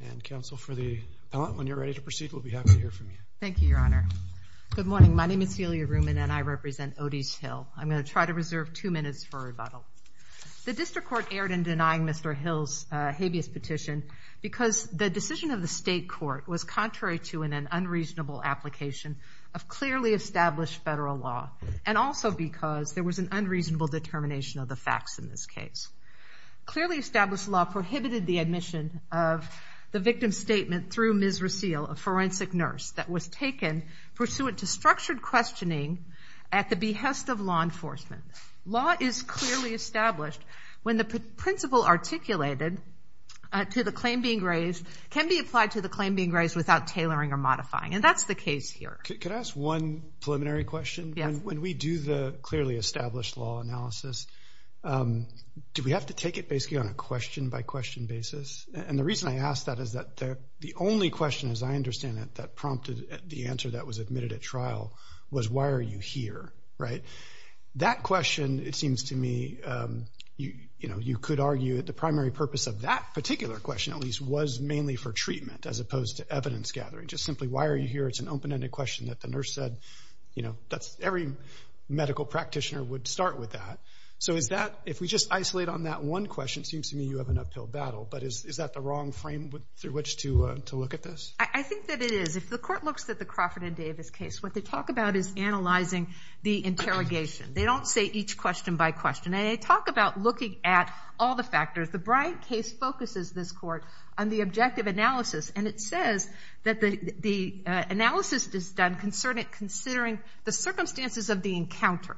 And counsel, for the appellant, when you're ready to proceed, we'll be happy to hear from you. Thank you, Your Honor. Good morning. My name is Celia Ruman, and I represent Odece Hill. I'm going to try to reserve two minutes for rebuttal. The district court erred in denying Mr. Hill's habeas petition because the decision of the state court was contrary to an unreasonable application of clearly established federal law, and also because there was an unreasonable determination of the facts in this case. Clearly established law prohibited the admission of the victim's statement through Ms. Rasile, a forensic nurse, that was taken pursuant to structured questioning at the behest of law enforcement. Law is clearly established when the principle articulated to the claim being raised can be applied to the claim being raised without tailoring or modifying, and that's the case here. Could I ask one preliminary question? Yes. When we do the clearly established law analysis, do we have to take it basically on a question-by-question basis? And the reason I ask that is that the only question, as I understand it, that prompted the answer that was admitted at trial was, why are you here, right? That question, it seems to me, you know, you could argue that the primary purpose of that particular question, at least, was mainly for treatment as opposed to evidence gathering. Just simply, why are you here? It's an open-ended question that the nurse said, you know, that's every medical practitioner would start with that. So is that, if we just isolate on that one question, it seems to me you have an uphill battle. But is that the wrong frame through which to look at this? I think that it is. If the court looks at the Crawford and Davis case, what they talk about is analyzing the interrogation. They don't say each question by question. And they talk about looking at all the factors. The Bryant case focuses, this court, on the objective analysis. And it says that the analysis is done considering the circumstances of the encounter.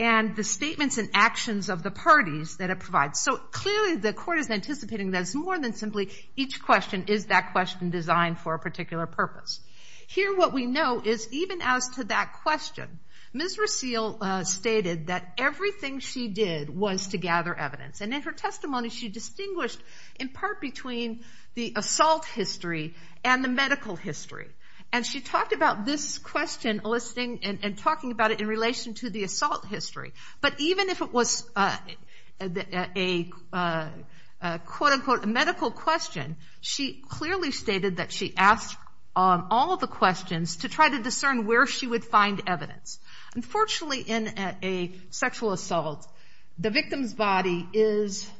And the statements and actions of the parties that it provides. So clearly, the court is anticipating that it's more than simply each question, is that question designed for a particular purpose? Here, what we know is, even as to that question, Ms. Rasile stated that everything she did was to gather evidence. And in her testimony, she distinguished, in part, between the assault history and the medical history. And she talked about this question, and talking about it in relation to the assault history. But even if it was a, quote-unquote, medical question, she clearly stated that she asked all of the questions to try to discern where she would find evidence. Unfortunately, in a sexual assault, the victim's body is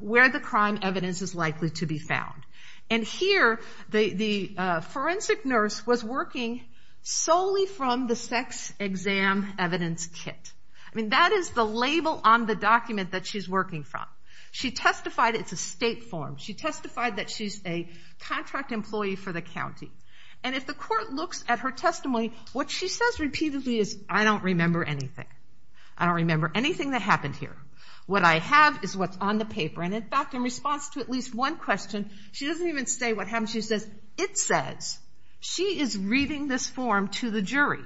where the crime evidence is likely to be found. And here, the forensic nurse was working solely from the sex exam evidence kit. I mean, that is the label on the document that she's working from. She testified it's a state form. She testified that she's a contract employee for the county. And if the court looks at her testimony, what she says repeatedly is, I don't remember anything. I don't remember anything that happened here. What I have is what's on the paper. And in fact, in response to at least one question, she doesn't even say what happened. She says, it says, she is reading this form to the jury.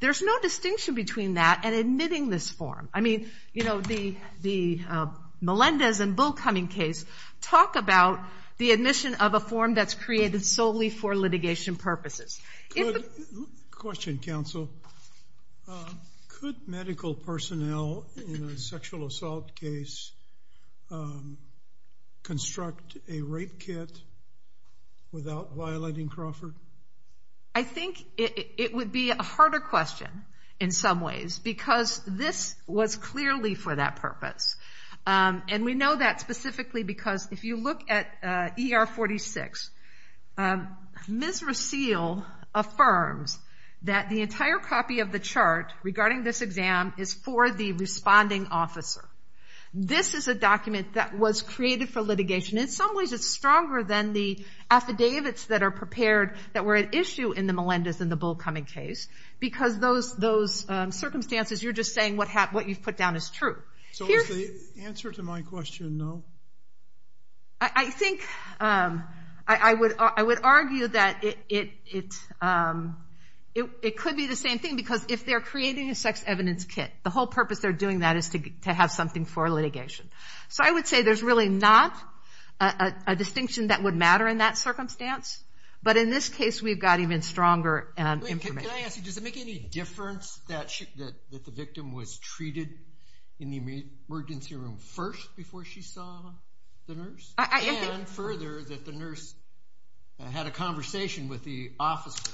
There's no distinction between that and admitting this form. I mean, you know, the Melendez and Bullcumming case talk about the admission of a form that's created solely for litigation purposes. Question, counsel. Could medical personnel in a sexual assault case construct a rape kit without violating Crawford? I think it would be a harder question in some ways because this was clearly for that purpose. And we know that specifically because if you look at ER 46, Ms. Rasile affirms that the entire copy of the chart regarding this exam is for the responding officer. This is a document that was created for litigation. In some ways, it's stronger than the affidavits that are prepared that were at issue in the Melendez and the Bullcumming case because those circumstances, you're just saying what you've put down is true. So is the answer to my question no? I think I would argue that it could be the same thing because if they're creating a sex evidence kit, the whole purpose they're doing that is to have something for litigation. So I would say there's really not a distinction that would matter in that circumstance. But in this case, we've got even stronger information. Can I ask you, does it make any difference that the victim was treated in the emergency room first before she saw the nurse? And further, that the nurse had a conversation with the officer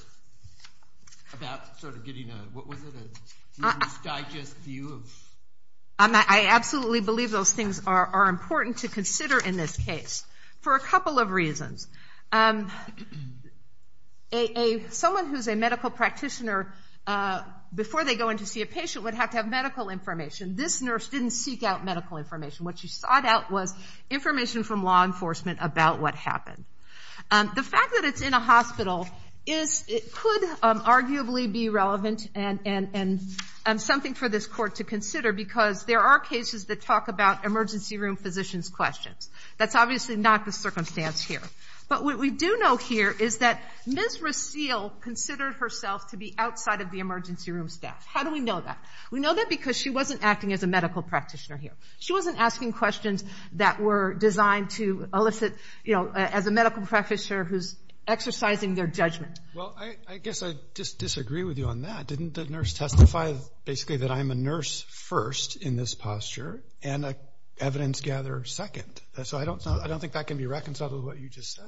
about sort of getting a, what was it, a misdigest view of? I absolutely believe those things are important to consider in this case for a couple of reasons. Someone who's a medical practitioner, before they go in to see a patient, would have to have medical information. This nurse didn't seek out medical information. What she sought out was information from law enforcement about what happened. The fact that it's in a hospital could arguably be relevant and something for this court to consider because there are cases that talk about emergency room physicians' questions. That's obviously not the circumstance here. But what we do know here is that Ms. Rasile considered herself to be outside of the emergency room staff. How do we know that? We know that because she wasn't acting as a medical practitioner here. She wasn't asking questions that were designed to elicit, you know, as a medical practitioner who's exercising their judgment. Well, I guess I just disagree with you on that. Didn't the nurse testify, basically, that I'm a nurse first in this posture and an evidence-gatherer second? So I don't think that can be reconciled with what you just said.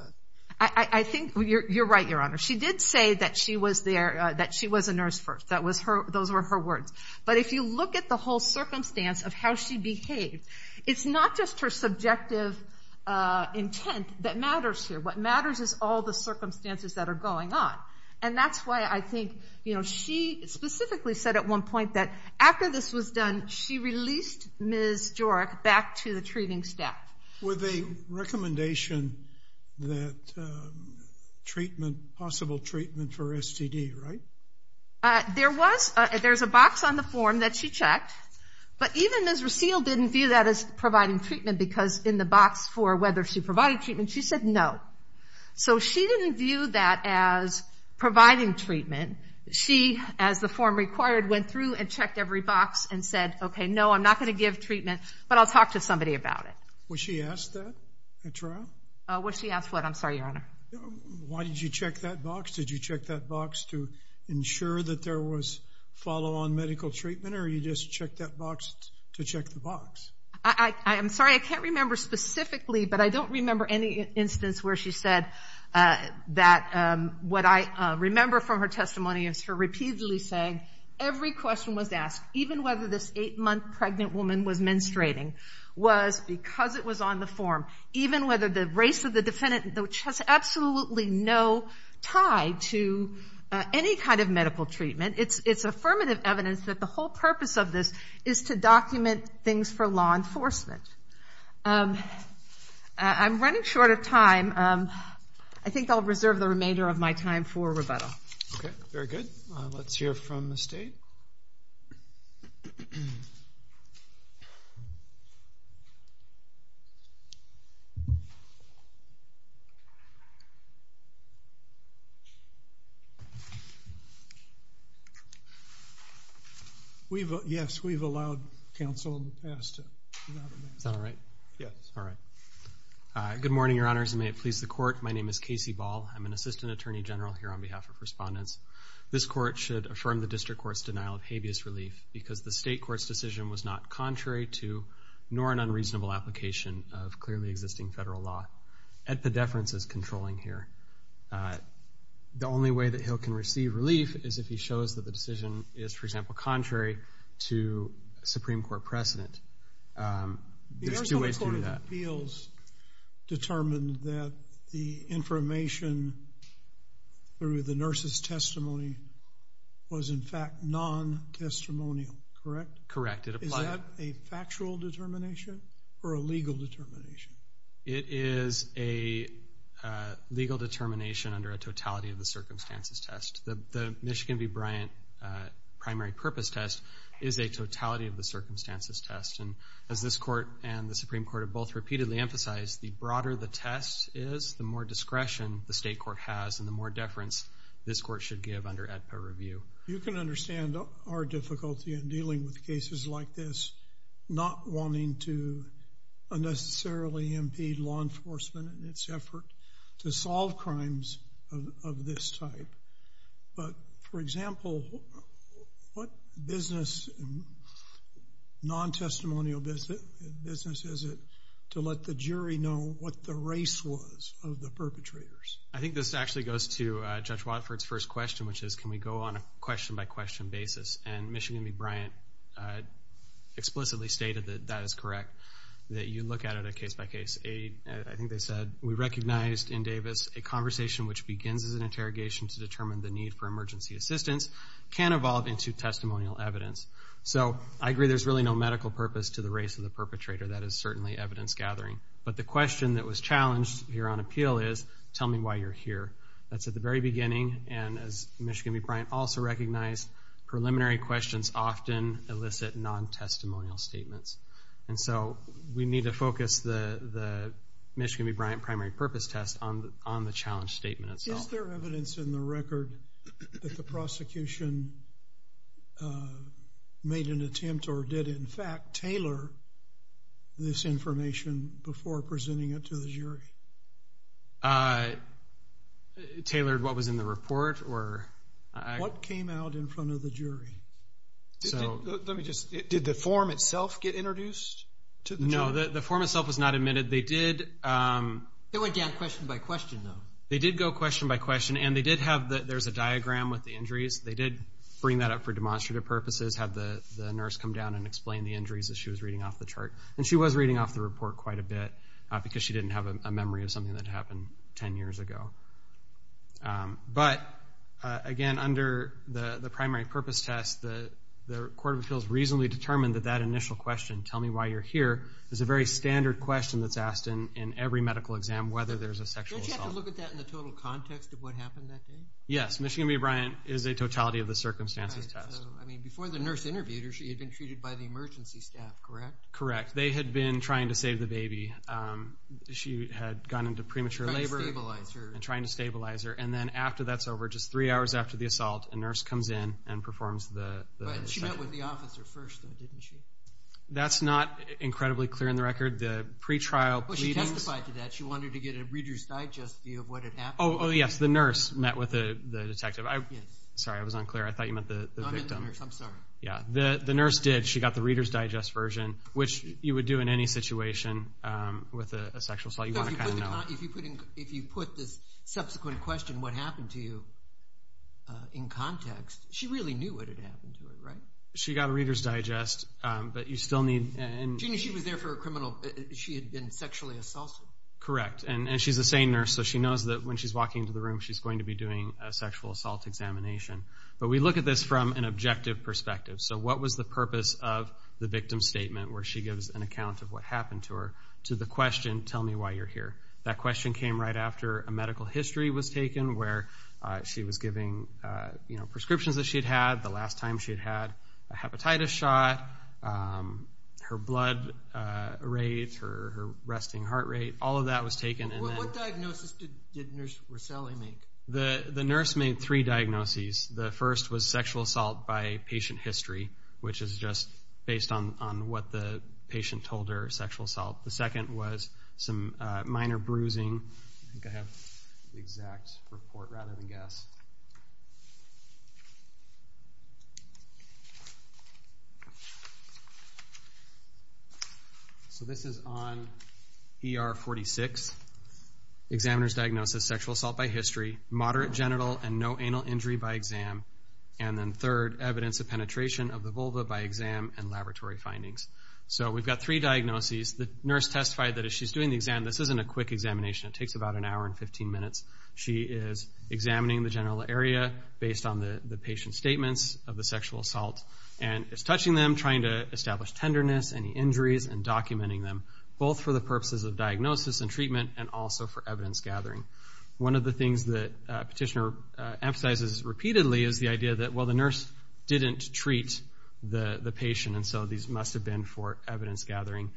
I think you're right, Your Honor. She did say that she was a nurse first. Those were her words. But if you look at the whole circumstance of how she behaved, it's not just her subjective intent that matters here. What matters is all the circumstances that are going on. And that's why I think, you know, she specifically said at one point that after this was done, she released Ms. Jorick back to the treating staff. With a recommendation that treatment, possible treatment for STD, right? There was, there's a box on the form that she checked. But even Ms. Rasile didn't view that as providing treatment because in the box for whether she provided treatment, she said no. So she didn't view that as providing treatment. She, as the form required, went through and checked every box and said, okay, no, I'm not gonna give treatment, but I'll talk to somebody about it. Was she asked that at trial? Was she asked what? I'm sorry, Your Honor. Why did you check that box? Did you check that box to ensure that there was follow-on medical treatment or you just checked that box to check the box? I'm sorry, I can't remember specifically, but I don't remember any instance where she said that what I remember from her testimony is her repeatedly saying every question was asked, even whether this eight-month pregnant woman was menstruating, was because it was on the form, even whether the race of the defendant, which has absolutely no tie to any kind of medical treatment. It's affirmative evidence that the whole purpose of this is to document things for law enforcement. I'm running short of time. I think I'll reserve the remainder of my time for rebuttal. Okay, very good. Let's hear from the state. Yes, we've allowed counsel in the past to do that. Is that right? Yes. All right. Good morning, your honors, and may it please the court. My name is Casey Ball. I'm an assistant attorney general here on behalf of respondents. This court should affirm the district court's denial of habeas relief because the state court's decision was not contrary to, nor an unreasonable application of clearly existing federal law. Edpedeference is controlling here. The only way that he'll can receive relief is if he shows that the decision is, for example, contrary to Supreme Court precedent. There's two ways to do that. The Arizona Court of Appeals determined that the information through the nurse's testimony was, in fact, non-testimonial, correct? Correct, it applied. Is that a factual determination or a legal determination? It is a legal determination under a totality of the circumstances test. The Michigan v. Bryant primary purpose test is a totality of the circumstances test. And as this court and the Supreme Court have both repeatedly emphasized, the broader the test is, the more discretion the state court has and the more deference this court should give under Edpede review. You can understand our difficulty in dealing with cases like this, not wanting to unnecessarily impede law enforcement in its effort to solve crimes of this type. But, for example, what business, non-testimonial business is it to let the jury know what the race was of the perpetrators? I think this actually goes to Judge Watford's first question, which is, can we go on a question-by-question basis? And Michigan v. Bryant explicitly stated that that is correct, that you look at it a case-by-case. I think they said, we recognized in Davis a conversation which begins as an interrogation to determine the need for emergency assistance can evolve into testimonial evidence. So, I agree there's really no medical purpose to the race of the perpetrator. That is certainly evidence gathering. But the question that was challenged here on appeal is, tell me why you're here. That's at the very beginning. And as Michigan v. Bryant also recognized, preliminary questions often elicit non-testimonial statements. And so, we need to focus the Michigan v. Bryant primary purpose test on the challenge statement itself. Is there evidence in the record that the prosecution made an attempt or did, in fact, tailor this information before presenting it to the jury? Tailored what was in the report, or? What came out in front of the jury? Let me just, did the form itself get introduced to the jury? No, the form itself was not admitted. They did... It went down question-by-question, though. They did go question-by-question, and they did have, there's a diagram with the injuries. They did bring that up for demonstrative purposes, have the nurse come down and explain the injuries as she was reading off the chart. And she was reading off the report quite a bit, because she didn't have a memory of something that happened 10 years ago. But, again, under the primary purpose test, the Court of Appeals reasonably determined that that initial question, tell me why you're here, is a very standard question that's asked in every medical exam, whether there's a sexual assault. Don't you have to look at that in the total context of what happened that day? Yes, Michigan B. Bryant is a totality of the circumstances test. I mean, before the nurse interviewed her, she had been treated by the emergency staff, correct? Correct. They had been trying to save the baby. She had gone into premature labor. Trying to stabilize her. And trying to stabilize her. And then after that's over, just three hours after the assault, a nurse comes in and performs the second. But she met with the officer first, though, didn't she? That's not incredibly clear in the record. The pre-trial readings... Well, she testified to that. She wanted to get a Reader's Digest view of what had happened. Oh, yes, the nurse met with the detective. Sorry, I was unclear. I thought you meant the victim. No, I meant the nurse. I'm sorry. Yeah, the nurse did. She got the Reader's Digest version, which you would do in any situation with a sexual assault. You want to kind of know. If you put this subsequent question, what happened to you, in context, she really knew what had happened to her, right? She got a Reader's Digest, but you still need... She knew she was there for a criminal... She had been sexually assaulted. Correct, and she's a sane nurse, so she knows that when she's walking into the room, she's going to be doing a sexual assault examination. But we look at this from an objective perspective. So what was the purpose of the victim's statement where she gives an account of what happened to her to the question, tell me why you're here? That question came right after a medical history was taken where she was giving prescriptions that she'd had the last time she'd had a hepatitis shot, her blood rate, her resting heart rate, all of that was taken. What diagnosis did Nurse Roselli make? The nurse made three diagnoses. The first was sexual assault by patient history, which is just based on what the patient told her, sexual assault. The second was some minor bruising. I think I have the exact report rather than guess. So this is on ER 46, examiner's diagnosis, sexual assault by history, moderate genital and no anal injury by exam, and then third, evidence of penetration of the vulva by exam and laboratory findings. So we've got three diagnoses. The nurse testified that as she's doing the exam, this isn't a quick examination. It takes about an hour and 15 minutes. She is examining the general area based on the patient's statements of the sexual assault, and is touching them, trying to establish tenderness, any injuries, and documenting them, both for the purposes of diagnosis and treatment and also for evidence gathering. One of the things that Petitioner emphasizes repeatedly is the idea that, well, the nurse didn't treat the patient, and so these must have been for evidence gathering.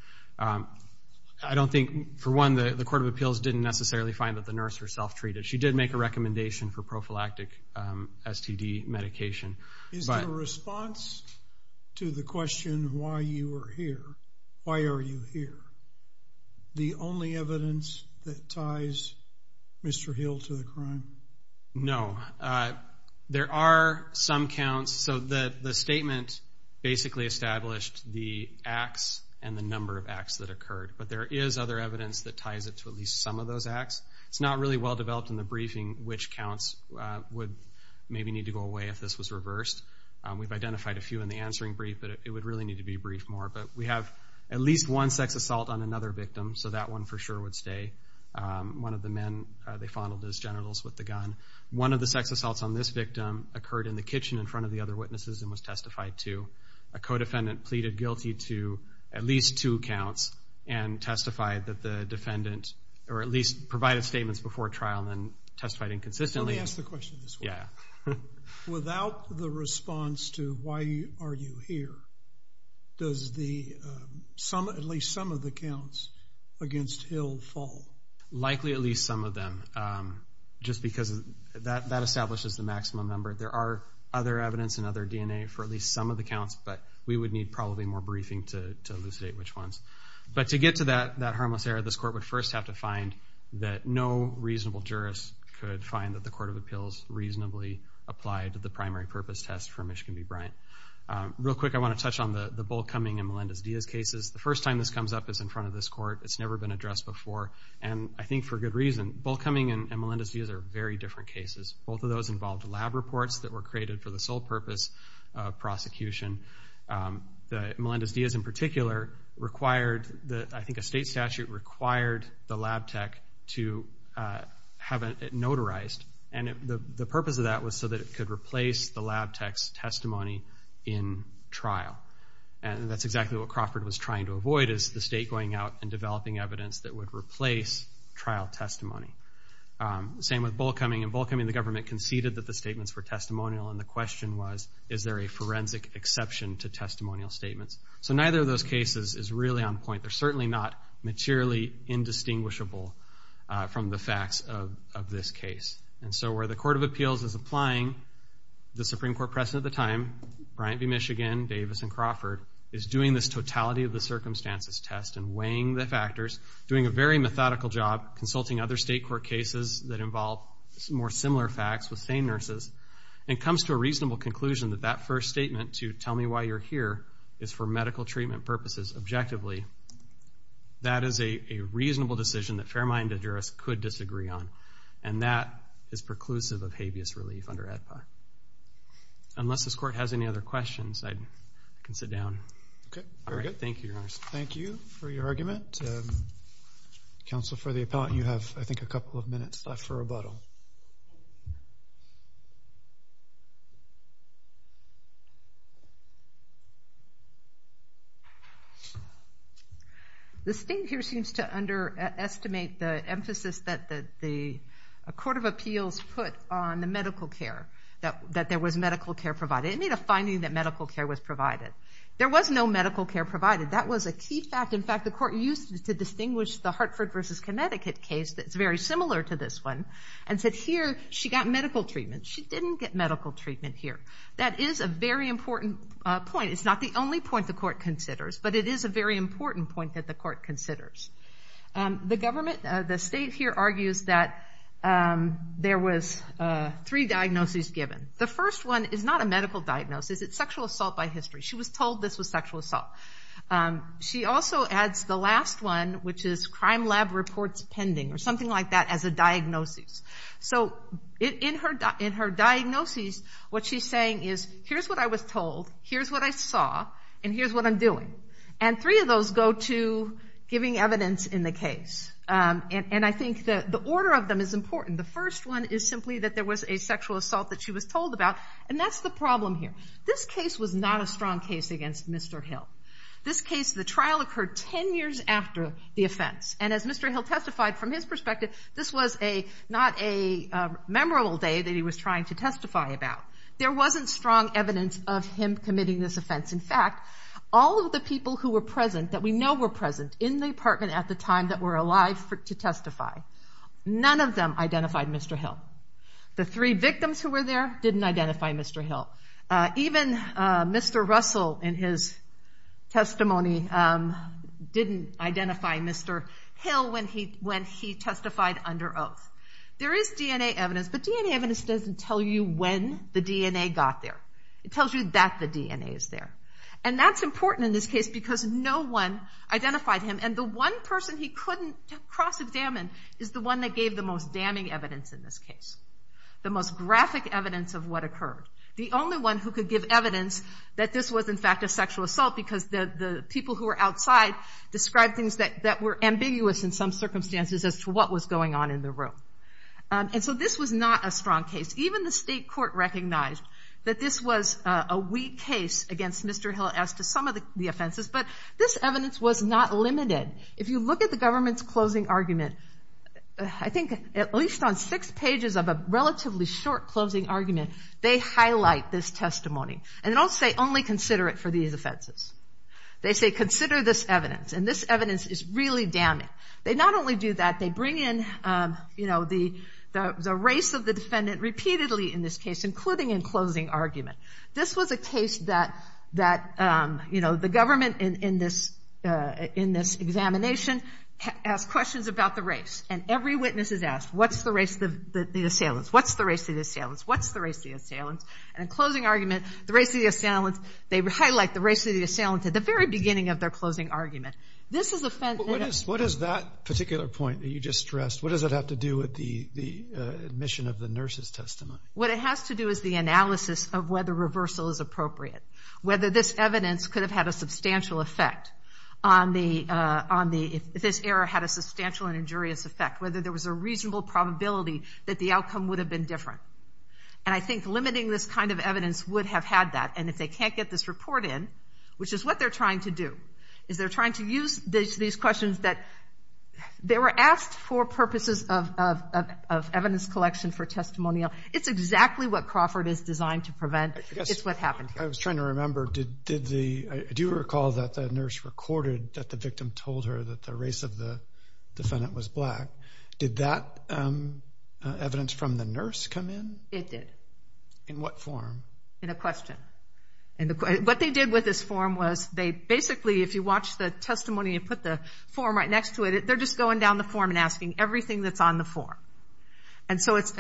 I don't think, for one, the Court of Appeals didn't necessarily find that the nurse herself treated. She did make a recommendation for prophylactic STD medication, but. In response to the question why you are here, why are you here, the only evidence that ties Mr. Hill to the crime? No, there are some counts. So the statement basically established the acts and the number of acts that occurred, but there is other evidence that ties it to at least some of those acts. It's not really well-developed in the briefing which counts would maybe need to go away if this was reversed. We've identified a few in the answering brief, but it would really need to be briefed more. But we have at least one sex assault on another victim, so that one for sure would stay. One of the men, they fondled his genitals with the gun. One of the sex assaults on this victim occurred in the kitchen in front of the other witnesses and was testified to. A co-defendant pleaded guilty to at least two counts and testified that the defendant, or at least provided statements before trial and then testified inconsistently. Let me ask the question this way. Without the response to why are you here, does at least some of the counts against Hill fall? Likely at least some of them, just because that establishes the maximum number. There are other evidence and other DNA for at least some of the counts, but we would need probably more briefing to elucidate which ones. But to get to that harmless error, this court would first have to find that no reasonable jurist could find that the Court of Appeals reasonably applied to the primary purpose test for Mishkin v. Bryant. Real quick, I want to touch on the Bull Cumming and Melendez-Diaz cases. The first time this comes up is in front of this court. It's never been addressed before. And I think for good reason. Bull Cumming and Melendez-Diaz are very different cases. Both of those involved lab reports that were created for the sole purpose of prosecution. Melendez-Diaz in particular required, I think a state statute required the lab tech to have it notarized. And the purpose of that was so that it could replace the lab tech's testimony in trial. And that's exactly what Crawford was trying to avoid, is the state going out and developing evidence that would replace trial testimony. Same with Bull Cumming. In Bull Cumming, the government conceded that the statements were testimonial, and the question was, is there a forensic exception to testimonial statements? So neither of those cases is really on point. They're certainly not materially indistinguishable from the facts of this case. And so where the Court of Appeals is applying, the Supreme Court president at the time, Bryant v. Michigan, Davis and Crawford, is doing this totality of the circumstances test and weighing the factors, doing a very methodical job, consulting other state court cases that involve more similar facts with same nurses, and comes to a reasonable conclusion that that first statement to tell me why you're here is for medical treatment purposes, objectively, that is a reasonable decision that fair-minded jurists could disagree on. And that is preclusive of habeas relief under AEDPA. Unless this court has any other questions, I can sit down. Okay, very good. Thank you, Your Honor. Thank you for your argument. Counsel for the appellant, you have, I think, a couple of minutes left for rebuttal. Go ahead. This thing here seems to underestimate the emphasis that the Court of Appeals put on the medical care, that there was medical care provided. It made a finding that medical care was provided. There was no medical care provided. That was a key fact. In fact, the Court used it to distinguish the Hartford v. Connecticut case that's very similar to this one, and said here, she got medical treatment. She didn't get medical treatment here. That is a very important point. It's not the only point the court considers, but it is a very important point that the court considers. The government, the state here argues that there was three diagnoses given. The first one is not a medical diagnosis. It's sexual assault by history. She was told this was sexual assault. She also adds the last one, which is crime lab reports pending, or something like that, as a diagnosis. So in her diagnosis, what she's saying is, here's what I was told, here's what I saw, and here's what I'm doing. And three of those go to giving evidence in the case. And I think the order of them is important. The first one is simply that there was a sexual assault that she was told about, and that's the problem here. This case was not a strong case against Mr. Hill. This case, the trial occurred 10 years after the offense. And as Mr. Hill testified, from his perspective, this was not a memorable day that he was trying to testify about. There wasn't strong evidence of him committing this offense. In fact, all of the people who were present, that we know were present in the apartment at the time that were alive to testify, none of them identified Mr. Hill. The three victims who were there didn't identify Mr. Hill. Even Mr. Russell, in his testimony, didn't identify Mr. Hill when he testified under oath. There is DNA evidence, but DNA evidence doesn't tell you when the DNA got there. It tells you that the DNA is there. And that's important in this case because no one identified him. And the one person he couldn't cross-examine is the one that gave the most damning evidence in this case, the most graphic evidence of what occurred, the only one who could give evidence that this was, in fact, a sexual assault because the people who were outside described things that were ambiguous in some circumstances as to what was going on in the room. And so this was not a strong case. Even the state court recognized that this was a weak case against Mr. Hill as to some of the offenses, but this evidence was not limited. If you look at the government's closing argument, I think at least on six pages of a relatively short closing argument, they highlight this testimony. And they don't say, only consider it for these offenses. They say, consider this evidence, and this evidence is really damning. They not only do that, they bring in the race of the defendant, repeatedly in this case, including in closing argument. This was a case that, you know, the government in this examination has questions about the race, and every witness is asked, what's the race of the assailants? What's the race of the assailants? What's the race of the assailants? And in closing argument, the race of the assailants, they highlight the race of the assailants at the very beginning of their closing argument. This is a fence. What is that particular point that you just stressed? What does it have to do with the admission of the nurse's testimony? What it has to do is the analysis of whether reversal is appropriate, whether this evidence could have had a substantial effect on the, if this error had a substantial and injurious effect, whether there was a reasonable probability that the outcome would have been different. And I think limiting this kind of evidence would have had that, and if they can't get this report in, which is what they're trying to do, is they're trying to use these questions that they were asked for purposes of evidence collection for testimonial. It's exactly what Crawford is designed to prevent. It's what happened here. I was trying to remember, did the, I do recall that the nurse recorded that the victim told her that the race of the defendant was black. Did that evidence from the nurse come in? It did. In what form? In a question. What they did with this form was they basically, if you watch the testimony and put the form right next to it, they're just going down the form and asking everything that's on the form. And so it's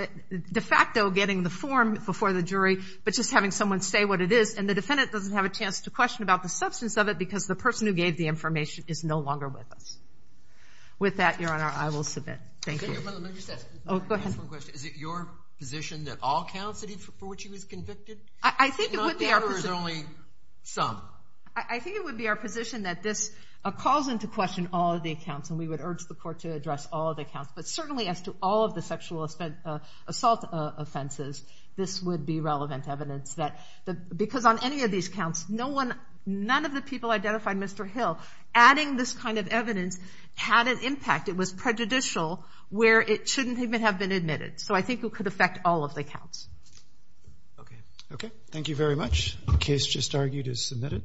de facto getting the form before the jury, but just having someone say what it is, and the defendant doesn't have a chance to question about the substance of it because the person who gave the information is no longer with us. With that, Your Honor, I will submit. Thank you. Can I just ask one question? Is it your position that all counts for which he was convicted? I think it would be our position. Not that, or is it only some? I think it would be our position that this calls into question all of the accounts, and we would urge the court to address all of the accounts. But certainly as to all of the sexual assault offenses, this would be relevant evidence. Because on any of these counts, none of the people identified Mr. Hill adding this kind of evidence had an impact. It was prejudicial, where it shouldn't even have been admitted. So I think it could affect all of the counts. Okay. Okay, thank you very much. The case just argued is submitted.